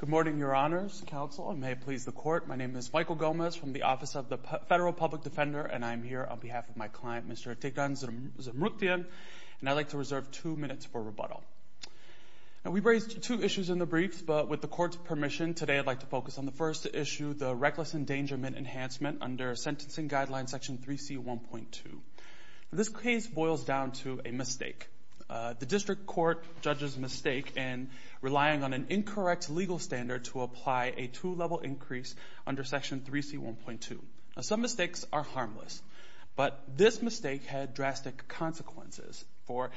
Good morning, Your Honors, Counsel, and may it please the Court, my name is Michael Gomez from the Office of the Federal Public Defender, and I am here on behalf of my client, Mr. Tigran Zmrukhtyan, and I'd like to reserve two minutes for rebuttal. Now, we've raised two issues in the briefs, but with the Court's permission, today I'd like to focus on the first issue, the reckless endangerment enhancement under sentencing guideline section 3C1.2. This case boils down to a mistake. The district court judges mistake in relying on an incorrect legal standard to apply a two-level increase under section 3C1.2. Some mistakes are harmless, but this mistake had drastic consequences. For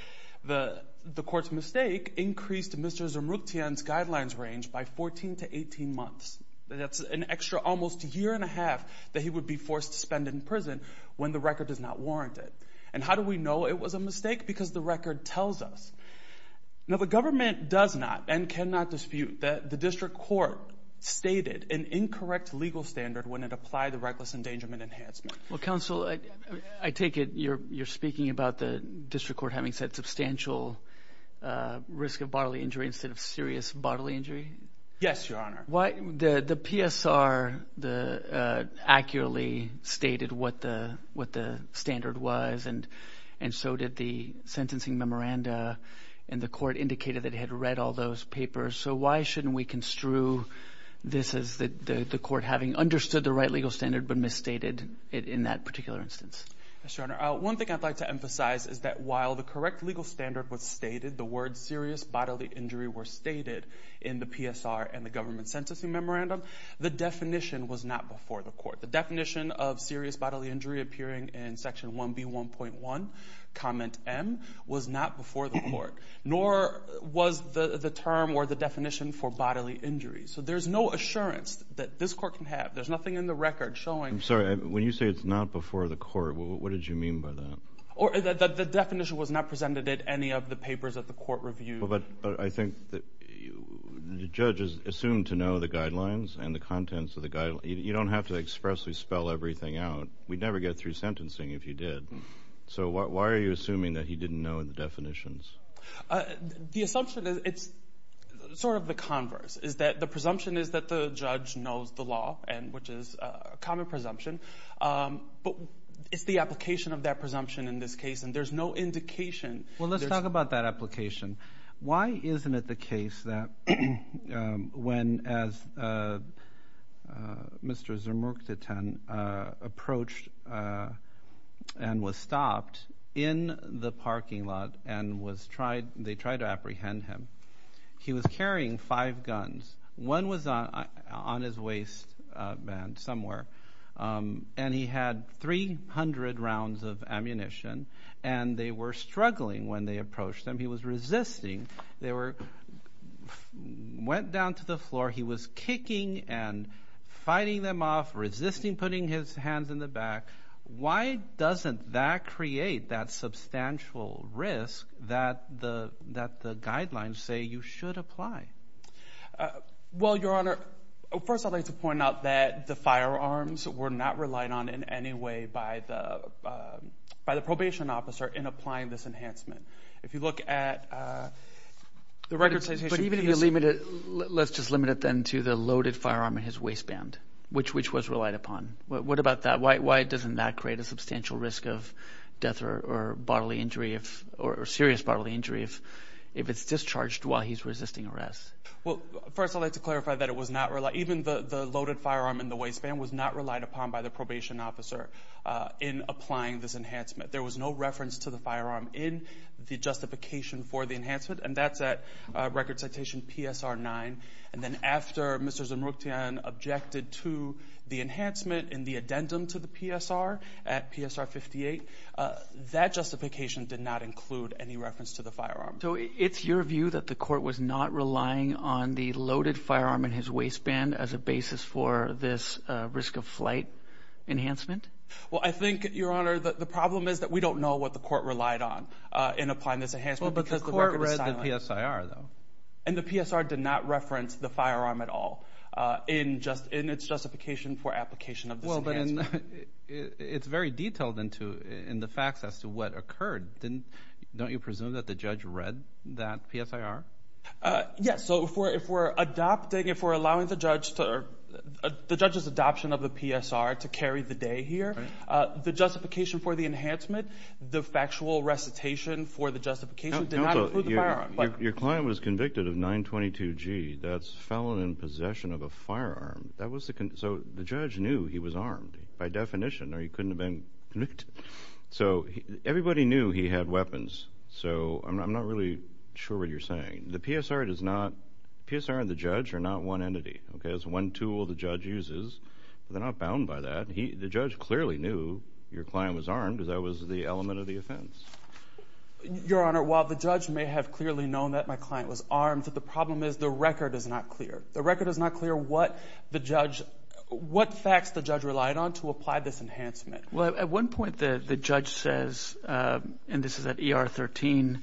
the Court's mistake increased Mr. Zmrukhtyan's guidelines range by 14 to 18 months. That's an extra almost year and a half that he would be forced to spend in prison when the record does not warrant it. And how do we know it was a mistake? Because the record tells us. Now, the government does not and cannot dispute that the district court stated an incorrect legal standard when it applied the reckless endangerment enhancement. Well, counsel, I take it you're speaking about the district court having said substantial risk of bodily injury instead of serious bodily injury? Yes, Your Honor. The PSR accurately stated what the standard was, and so did the sentencing memoranda, and the Court indicated that it had read all those papers, so why shouldn't we construe this as the Court having understood the right legal standard but misstated it in that particular instance? Yes, Your Honor. One thing I'd like to emphasize is that while the correct legal standard was stated, the words serious bodily injury were stated in the PSR and the government sentencing memoranda, the definition was not before the Court. The definition of serious bodily injury appearing in section 1B1.1, comment M, was not before the Court, nor was the term or the definition for bodily injury. So there's no assurance that this Court can have. There's nothing in the record showing. I'm sorry. When you say it's not before the Court, what did you mean by that? The definition was not presented at any of the papers at the Court review. But I think that the judge is assumed to know the guidelines and the contents of the guidelines. You don't have to expressly spell everything out. We'd never get through sentencing if you did. So why are you assuming that he didn't know the definitions? The assumption is, it's sort of the converse, is that the presumption is that the judge knows the law, which is a common presumption. But it's the application of that presumption in this case, and there's no indication. Well, let's talk about that application. Why isn't it the case that when, as Mr. Zermurchten approached and was stopped in the parking lot and was tried, they tried to apprehend him, he was carrying five guns. One was on his waistband somewhere, and he had 300 rounds of ammunition, and they were struggling when they approached him. He was resisting. They went down to the floor. He was kicking and fighting them off, resisting putting his hands in the back. Why doesn't that create that substantial risk that the guidelines say you should apply? Well, Your Honor, first I'd like to point out that the firearms were not relied on in any way by the probation officer in applying this enhancement. If you look at the record citation piece... But even if you limit it, let's just limit it then to the loaded firearm in his waistband, which was relied upon. What about that? Why doesn't that create a substantial risk of death or bodily injury or serious bodily injury if it's discharged while he's resisting arrest? Well, first I'd like to clarify that it was not relied, even the loaded firearm in the waistband was not relied upon by the probation officer in applying this enhancement. There was no reference to the firearm in the justification for the enhancement, and that's at record citation PSR 9. And then after Mr. Zamroutian objected to the enhancement in the addendum to the PSR at PSR 58, that justification did not include any reference to the firearm. So it's your view that the court was not relying on the loaded firearm in his waistband as a basis for this risk of flight enhancement? Well, I think, Your Honor, the problem is that we don't know what the court relied on in applying this enhancement because the record is silent. Well, but the court read the PSR, though. And the PSR did not reference the firearm at all in its justification for application of this enhancement. Well, then it's very detailed in the facts as to what occurred. Don't you presume that the judge read that PSR? Yes. So if we're adopting, if we're allowing the judge to... The justification for the enhancement, the factual recitation for the justification did not include the firearm. Your client was convicted of 922G, that's felon in possession of a firearm. So the judge knew he was armed, by definition, or he couldn't have been convicted. So everybody knew he had weapons. So I'm not really sure what you're saying. The PSR does not... The PSR and the judge are not one entity. Okay? It's one tool the judge uses. But they're not bound by that. The judge clearly knew your client was armed, because that was the element of the offense. Your Honor, while the judge may have clearly known that my client was armed, the problem is the record is not clear. The record is not clear what the judge... What facts the judge relied on to apply this enhancement. Well, at one point the judge says, and this is at ER 13,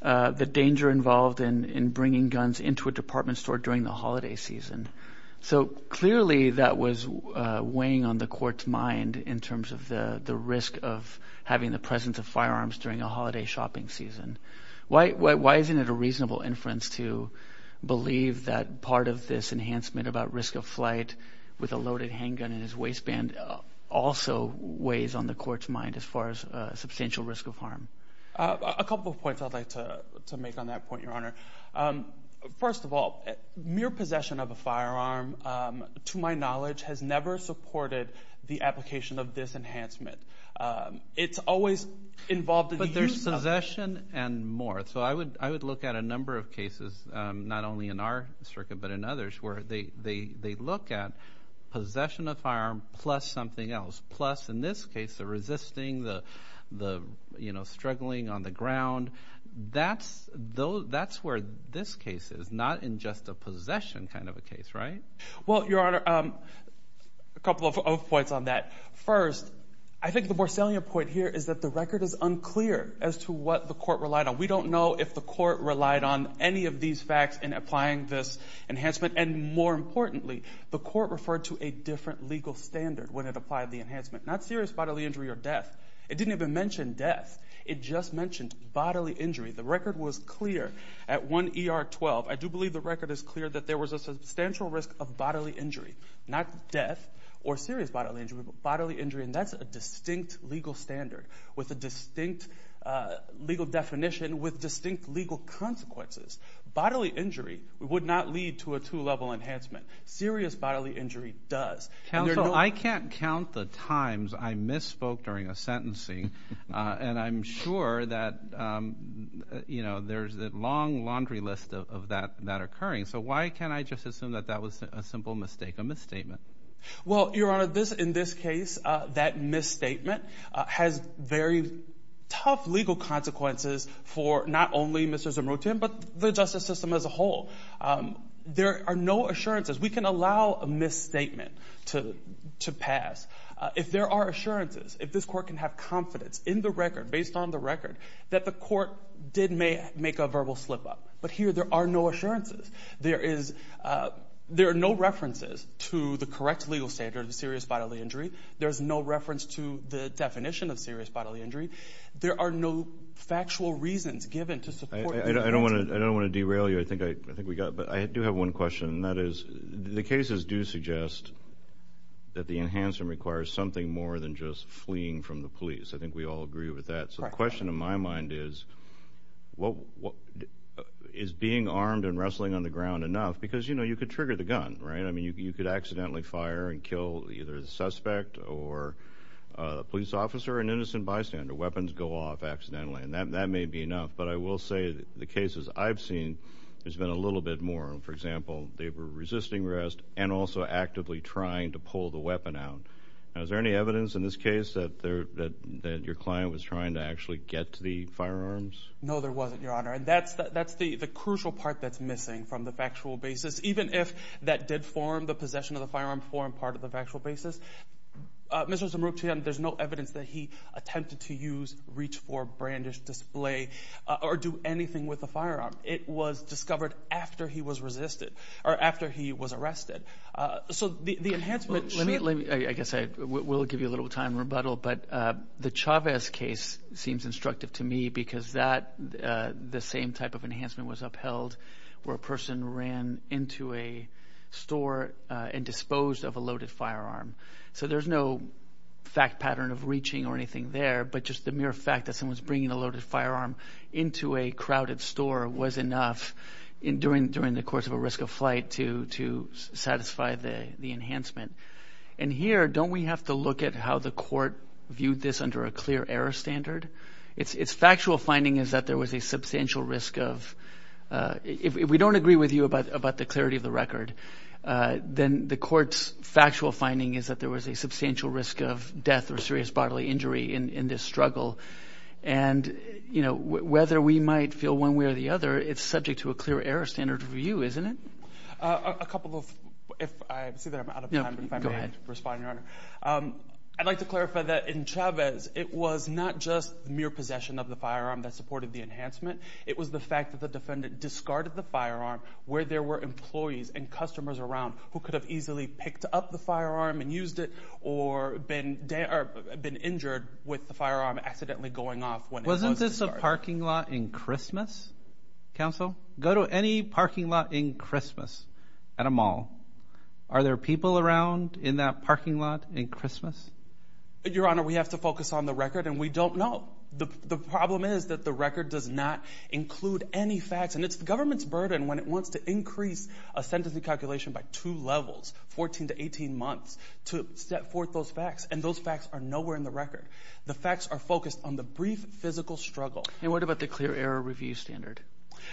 the danger involved in bringing guns into a department store during the holiday season. So clearly that was weighing on the court's mind in terms of the risk of having the presence of firearms during a holiday shopping season. Why isn't it a reasonable inference to believe that part of this enhancement about risk of flight with a loaded handgun in his waistband also weighs on the court's mind as far as a substantial risk of harm? A couple of points I'd like to make on that point, Your Honor. First of all, mere possession of a firearm, to my knowledge, has never supported the application of this enhancement. It's always involved in the use of... But there's possession and more. So I would look at a number of cases, not only in our circuit but in others, where they look at possession of firearm plus something else. Plus in this case, the resisting, the struggling on the ground. That's where this case is, not in just a possession kind of a case, right? Well, Your Honor, a couple of points on that. First, I think the more salient point here is that the record is unclear as to what the court relied on. We don't know if the court relied on any of these facts in applying this enhancement. And more importantly, the court referred to a different legal standard when it applied the enhancement. Not serious bodily injury or death. It didn't even mention death. It just mentioned bodily injury. The record was clear. At 1 ER 12, I do believe the record is clear that there was a substantial risk of bodily injury. Not death or serious bodily injury, but bodily injury. And that's a distinct legal standard with a distinct legal definition with distinct legal consequences. Bodily injury would not lead to a two-level enhancement. Serious bodily injury does. Counsel, I can't count the times I misspoke during a sentencing. And I'm sure that, you know, there's a long laundry list of that occurring. So why can't I just assume that that was a simple mistake, a misstatement? Well, Your Honor, in this case, that misstatement has very tough legal consequences for not only Mr. Zimrotin, but the justice system as a whole. There are no assurances. We can allow a misstatement to pass if there are assurances, if this court can have confidence in the record, based on the record, that the court did make a verbal slip-up. But here, there are no assurances. There are no references to the correct legal standard of serious bodily injury. There's no reference to the definition of serious bodily injury. There are no factual reasons given to support the evidence. I don't want to derail you. I think we got it. I do have one question, and that is, the cases do suggest that the enhancement requires something more than just fleeing from the police. I think we all agree with that. So the question in my mind is, is being armed and wrestling on the ground enough? Because, you know, you could trigger the gun, right? I mean, you could accidentally fire and kill either the suspect or a police officer, an innocent bystander. Weapons go off accidentally, and that may be enough. But I will say, the cases I've seen, there's been a little bit more. For example, they were resisting arrest and also actively trying to pull the weapon out. Now, is there any evidence in this case that your client was trying to actually get to the firearms? No, there wasn't, Your Honor. And that's the crucial part that's missing from the factual basis, even if that did form the possession of the firearm form part of the factual basis. Mr. Zimruk, to him, there's no evidence that he attempted to use reach for brandish or display or do anything with the firearm. It was discovered after he was resisted, or after he was arrested. So the enhancement... Let me, I guess I will give you a little time rebuttal, but the Chavez case seems instructive to me because that, the same type of enhancement was upheld where a person ran into a store and disposed of a loaded firearm. So there's no fact pattern of reaching or anything there, but just the mere fact that a person was bringing a loaded firearm into a crowded store was enough during the course of a risk of flight to satisfy the enhancement. And here, don't we have to look at how the court viewed this under a clear error standard? Its factual finding is that there was a substantial risk of, if we don't agree with you about the clarity of the record, then the court's factual finding is that there was a substantial risk of death or serious bodily injury in this struggle. And you know, whether we might feel one way or the other, it's subject to a clear error standard for you, isn't it? A couple of, if I see that I'm out of time, but if I may respond, Your Honor, I'd like to clarify that in Chavez, it was not just the mere possession of the firearm that supported the enhancement. It was the fact that the defendant discarded the firearm where there were employees and or been injured with the firearm accidentally going off when it was discarded. Wasn't this a parking lot in Christmas, counsel? Go to any parking lot in Christmas at a mall. Are there people around in that parking lot in Christmas? Your Honor, we have to focus on the record and we don't know. The problem is that the record does not include any facts and it's the government's burden when it wants to increase a sentencing calculation by two levels, 14 to 18 months, to set forth those facts and those facts are nowhere in the record. The facts are focused on the brief physical struggle. And what about the clear error review standard?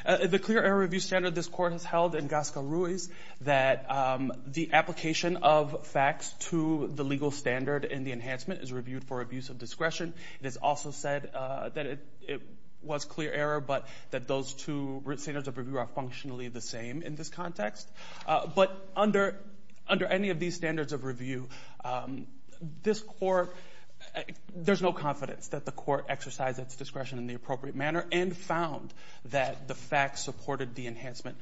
The clear error review standard this Court has held in Gasca Ruiz that the application of facts to the legal standard in the enhancement is reviewed for abuse of discretion. It is also said that it was clear error, but that those two standards of review are functionally the same in this context. But under any of these standards of review, this Court, there's no confidence that the Court exercised its discretion in the appropriate manner and found that the facts supported the enhancement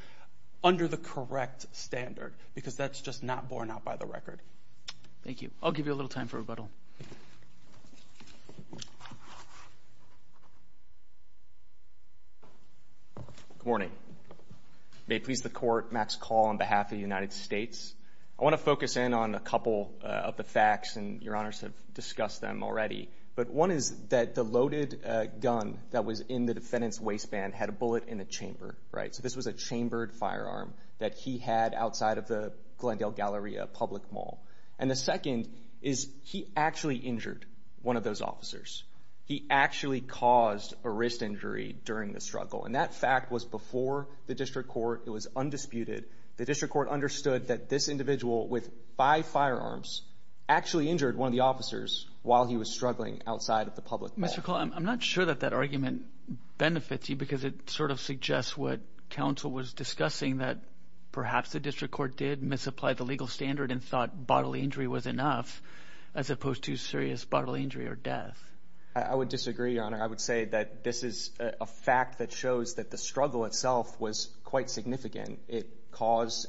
under the correct standard because that's just not borne out by the record. Thank you. I'll give you a little time for rebuttal. Good morning. May it please the Court, Max Call on behalf of the United States. I want to focus in on a couple of the facts and Your Honors have discussed them already. But one is that the loaded gun that was in the defendant's waistband had a bullet in the chamber, right? So this was a chambered firearm that he had outside of the Glendale Galleria public mall. And the second is he actually injured one of those officers. He actually caused a wrist injury during the struggle. And that fact was before the District Court. It was undisputed. The District Court understood that this individual with five firearms actually injured one of the officers while he was struggling outside of the public mall. Mr. Call, I'm not sure that that argument benefits you because it sort of suggests what counsel was discussing that perhaps the District Court did misapply the legal standard and thought bodily injury was enough as opposed to serious bodily injury or death. I would disagree, Your Honor. I would say that this is a fact that shows that the struggle itself was quite significant. It caused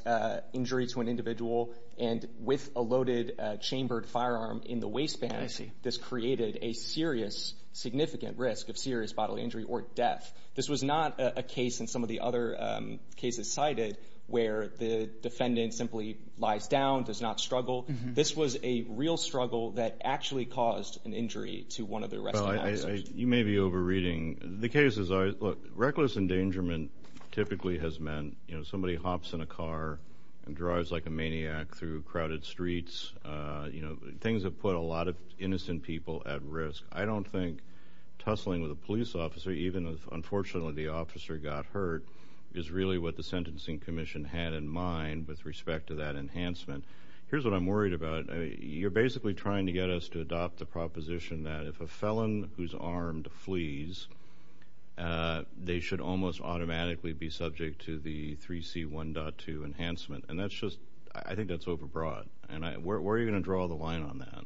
injury to an individual and with a loaded chambered firearm in the waistband, this created a serious, significant risk of serious bodily injury or death. This was not a case in some of the other cases cited where the defendant simply lies down, does not struggle. This was a real struggle that actually caused an injury to one of the rest of the officers. You may be over-reading. The case is reckless endangerment typically has meant somebody hops in a car and drives like a maniac through crowded streets. Things have put a lot of innocent people at risk. I don't think tussling with a police officer, even if unfortunately the officer got hurt, is really what the Sentencing Commission had in mind with respect to that enhancement. Here's what I'm worried about. You're basically trying to get us to adopt the proposition that if a felon who's armed flees, they should almost automatically be subject to the 3C1.2 enhancement. I think that's over-broad. Where are you going to draw the line on that?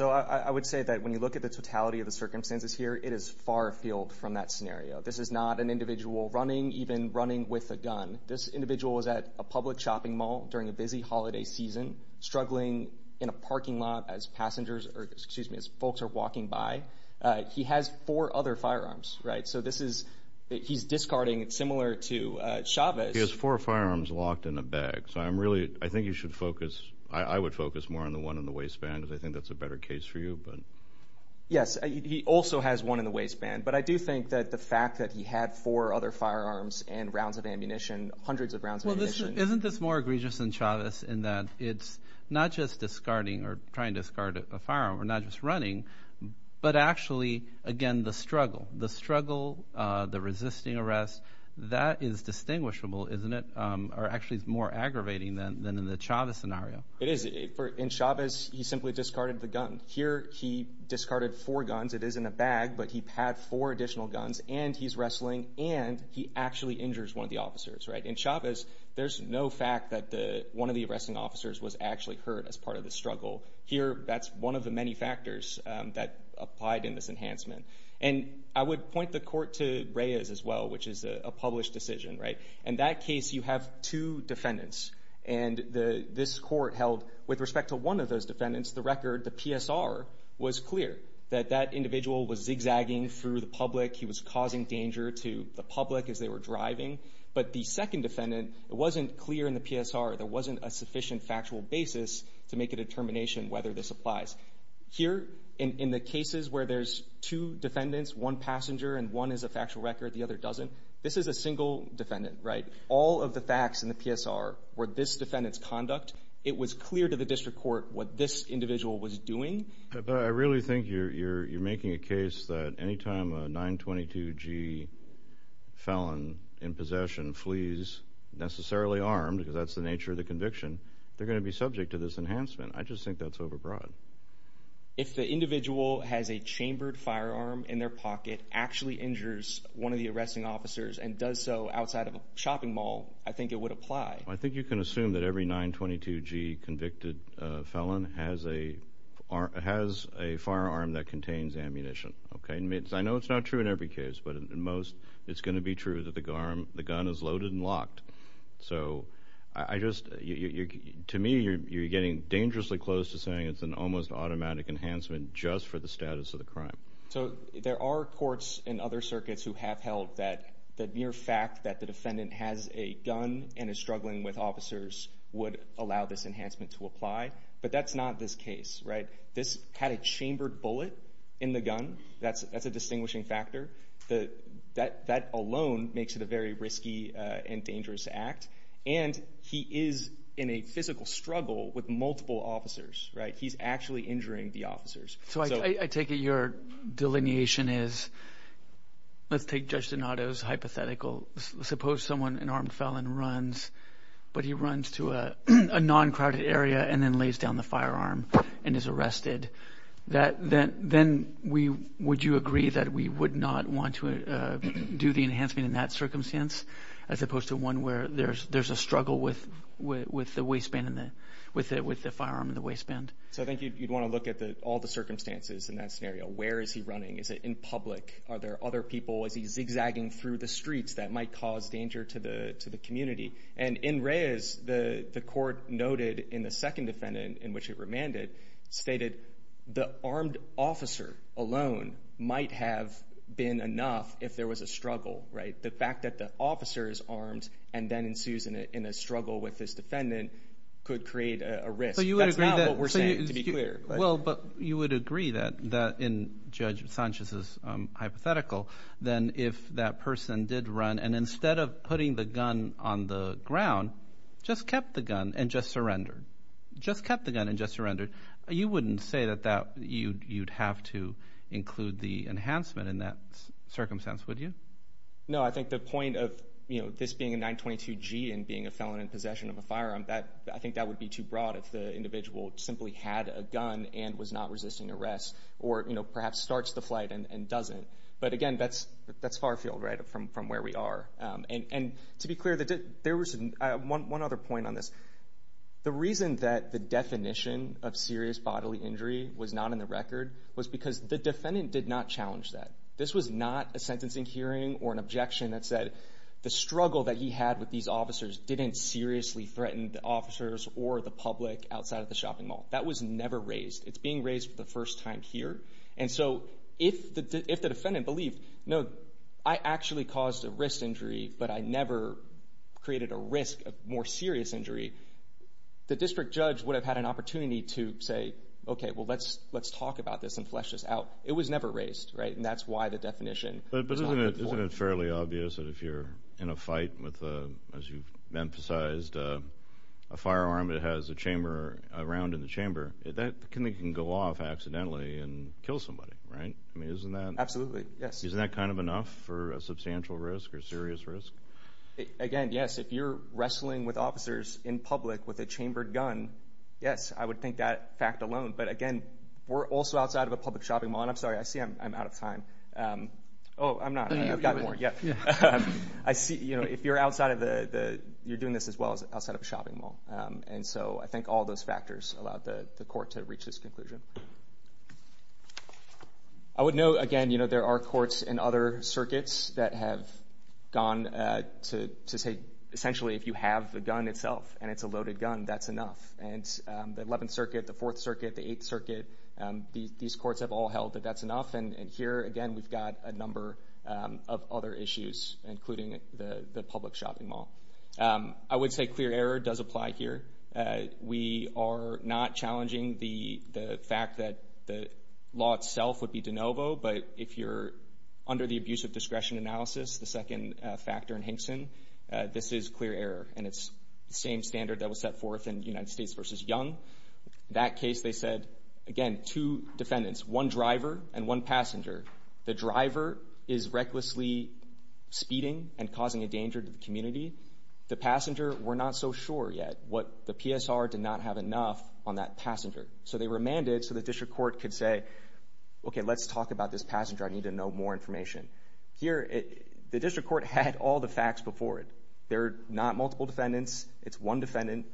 I would say that when you look at the totality of the circumstances here, it is far-field from that scenario. This is not an individual running, even running with a gun. This individual was at a public shopping mall during a busy holiday season, struggling in a parking lot as folks are walking by. He has four other firearms. He's discarding similar to Chavez. He has four firearms locked in a bag. I think you should focus, I would focus more on the one in the waistband because I think that's a better case for you. Yes, he also has one in the waistband, but I do think that the fact that he had four other firearms and rounds of ammunition, hundreds of rounds of ammunition. Isn't this more egregious than Chavez in that it's not just discarding or trying to discard a firearm, or not just running, but actually, again, the struggle. The struggle, the resisting arrest, that is distinguishable, isn't it, or actually is more aggravating than in the Chavez scenario? It is. In Chavez, he simply discarded the gun. Here, he discarded four guns. It is in a bag, but he had four additional guns, and he's wrestling, and he actually injures one of the officers. In Chavez, there's no fact that one of the arresting officers was actually hurt as part of the struggle. Here, that's one of the many factors that applied in this enhancement. I would point the court to Reyes as well, which is a published decision. In that case, you have two defendants. This court held, with respect to one of those defendants, the record, the PSR, was clear that that individual was zigzagging through the public. He was causing danger to the public as they were driving. But the second defendant, it wasn't clear in the PSR, there wasn't a sufficient factual basis to make a determination whether this applies. Here, in the cases where there's two defendants, one passenger, and one is a factual record, the other doesn't, this is a single defendant, right? All of the facts in the PSR were this defendant's conduct. It was clear to the district court what this individual was doing. But I really think you're making a case that any time a 922-G felon in possession flees necessarily armed, because that's the nature of the conviction, they're going to be subject to this enhancement. I just think that's overbroad. If the individual has a chambered firearm in their pocket, actually injures one of the arresting officers, and does so outside of a shopping mall, I think it would apply. I think you can assume that every 922-G convicted felon has a firearm that contains ammunition, okay? I know it's not true in every case, but in most, it's going to be true that the gun is loaded and locked. So, to me, you're getting dangerously close to saying it's an almost automatic enhancement just for the status of the crime. So, there are courts in other circuits who have held that the mere fact that the individual is dealing with officers would allow this enhancement to apply. But that's not this case, right? This had a chambered bullet in the gun. That's a distinguishing factor. That alone makes it a very risky and dangerous act. And he is in a physical struggle with multiple officers, right? He's actually injuring the officers. So, I take it your delineation is, let's take Judge Donato's hypothetical. Suppose someone, an armed felon, runs, but he runs to a non-crowded area and then lays down the firearm and is arrested. Then would you agree that we would not want to do the enhancement in that circumstance as opposed to one where there's a struggle with the firearm and the waistband? So I think you'd want to look at all the circumstances in that scenario. Where is he running? Is it in public? Are there other people? Is he zigzagging through the streets that might cause danger to the community? And in Reyes, the court noted in the second defendant, in which it remanded, stated the armed officer alone might have been enough if there was a struggle, right? The fact that the officer is armed and then ensues in a struggle with his defendant could create a risk. Well, but you would agree that in Judge Sanchez's hypothetical, then if that person did run and instead of putting the gun on the ground, just kept the gun and just surrendered. Just kept the gun and just surrendered. You wouldn't say that you'd have to include the enhancement in that circumstance, would you? No, I think the point of this being a 922-G and being a felon in possession of a firearm, I think that would be too broad if the individual simply had a gun and was not resisting arrest or perhaps starts the flight and doesn't. But again, that's far field, right, from where we are. And to be clear, there was one other point on this. The reason that the definition of serious bodily injury was not in the record was because the defendant did not challenge that. This was not a sentencing hearing or an objection that said the struggle that he had with these officers or the public outside of the shopping mall. That was never raised. It's being raised for the first time here. And so if the defendant believed, no, I actually caused a wrist injury, but I never created a risk, a more serious injury, the district judge would have had an opportunity to say, okay, well, let's talk about this and flesh this out. It was never raised, right? And that's why the definition was not in the report. Isn't it fairly obvious that if you're in a fight with, as you've emphasized, a firearm that has a chamber, a round in the chamber, that can go off accidentally and kill somebody, right? I mean, isn't that? Absolutely, yes. Isn't that kind of enough for a substantial risk or serious risk? Again, yes. If you're wrestling with officers in public with a chambered gun, yes, I would think that fact alone. But again, we're also outside of a public shopping mall, and I'm sorry, I see I'm out of time. Oh, I'm not. I've got more, yeah. If you're outside of the, you're doing this as well as outside of a shopping mall. And so I think all those factors allowed the court to reach this conclusion. I would note, again, there are courts in other circuits that have gone to say, essentially, if you have the gun itself and it's a loaded gun, that's enough. And the 11th Circuit, the 4th Circuit, the 8th Circuit, these courts have all held that that's enough. And here, again, we've got a number of other issues, including the public shopping mall. I would say clear error does apply here. We are not challenging the fact that the law itself would be de novo, but if you're under the abuse of discretion analysis, the second factor in Hinkson, this is clear error. And it's the same standard that was set forth in United States v. Young. That case, they said, again, two defendants, one driver and one passenger. The driver is recklessly speeding and causing a danger to the community. The passenger, we're not so sure yet what the PSR did not have enough on that passenger. So they remanded so the district court could say, okay, let's talk about this passenger. I need to know more information. Here, the district court had all the facts before it. They're not multiple defendants. It's one defendant.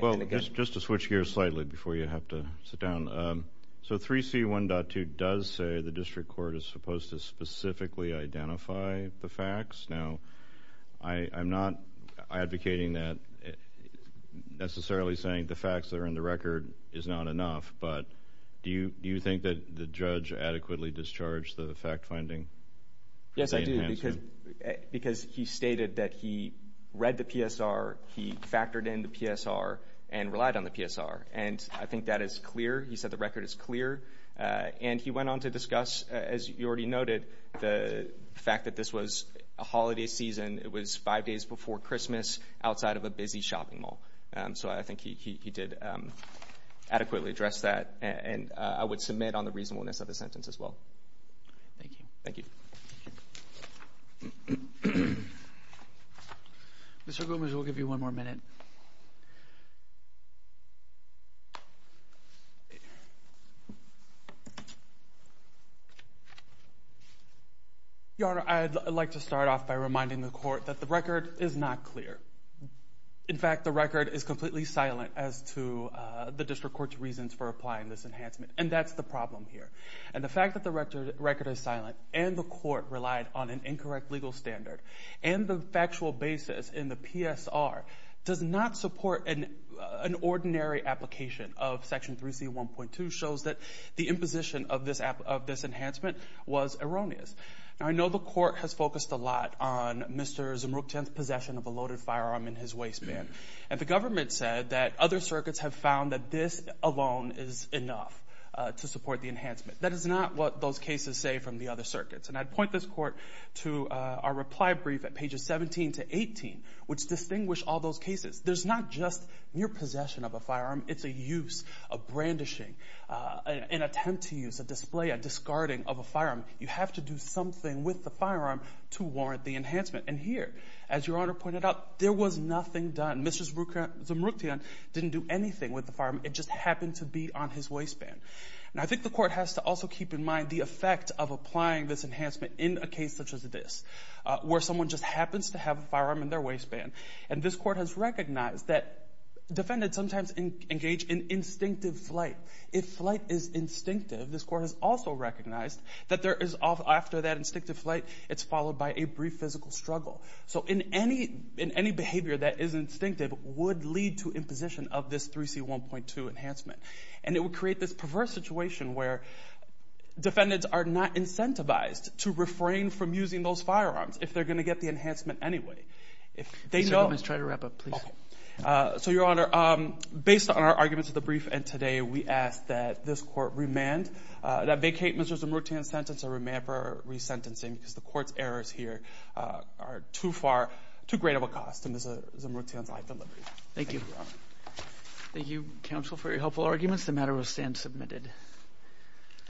Well, just to switch gears slightly before you have to sit down, so 3C1.2 does say the district court is supposed to specifically identify the facts. Now, I'm not advocating that necessarily saying the facts that are in the record is not enough, but do you think that the judge adequately discharged the fact finding? Yes, I do, because he stated that he read the PSR. He factored in the PSR and relied on the PSR, and I think that is clear. He said the record is clear, and he went on to discuss, as you already noted, the fact that this was a holiday season. It was five days before Christmas outside of a busy shopping mall. So I think he did adequately address that, and I would submit on the reasonableness of the sentence as well. Thank you. Thank you. Mr. Goombs, we'll give you one more minute. Your Honor, I'd like to start off by reminding the court that the record is not clear. In fact, the record is completely silent as to the district court's reasons for applying this enhancement, and that's the problem here. The fact that the record is silent and the court relied on an incorrect legal standard and the factual basis in the PSR does not support an ordinary application of Section 3C. 1.2 shows that the imposition of this enhancement was erroneous. Now, I know the court has focused a lot on Mr. Zmruktan's possession of a loaded firearm in his waistband, and the government said that other circuits have found that this alone is enough to support the enhancement. That is not what those cases say from the other circuits, and I'd point this court to our reply brief at pages 17 to 18, which distinguish all those cases. There's not just mere possession of a firearm. It's a use, a brandishing, an attempt to use, a display, a discarding of a firearm. You have to do something with the firearm to warrant the enhancement, and here, as Your Honor pointed out, there was nothing done. Mr. Zmruktan didn't do anything with the firearm. It just happened to be on his waistband, and I think the court has to also keep in mind the effect of applying this enhancement in a case such as this, where someone just happens to have a firearm in their waistband, and this court has recognized that defendants sometimes engage in instinctive flight. If flight is instinctive, this court has also recognized that there is, after that instinctive flight, it's followed by a brief physical struggle, so any behavior that is instinctive would lead to imposition of this 3C1.2 enhancement, and it would create this perverse situation where defendants are not incentivized to refrain from using those firearms if they're going to get the enhancement anyway. If they know— Mr. Gomez, try to wrap up, please. Okay. So, Your Honor, based on our arguments of the brief and today, we ask that this court remand, that vacate Mr. Zmruktan's sentence or remand for resentencing because the court's arguments here are too far—too great of a cost in Mr. Zmruktan's life and life. Thank you, Your Honor. Thank you, counsel, for your helpful arguments. The matter will stand submitted.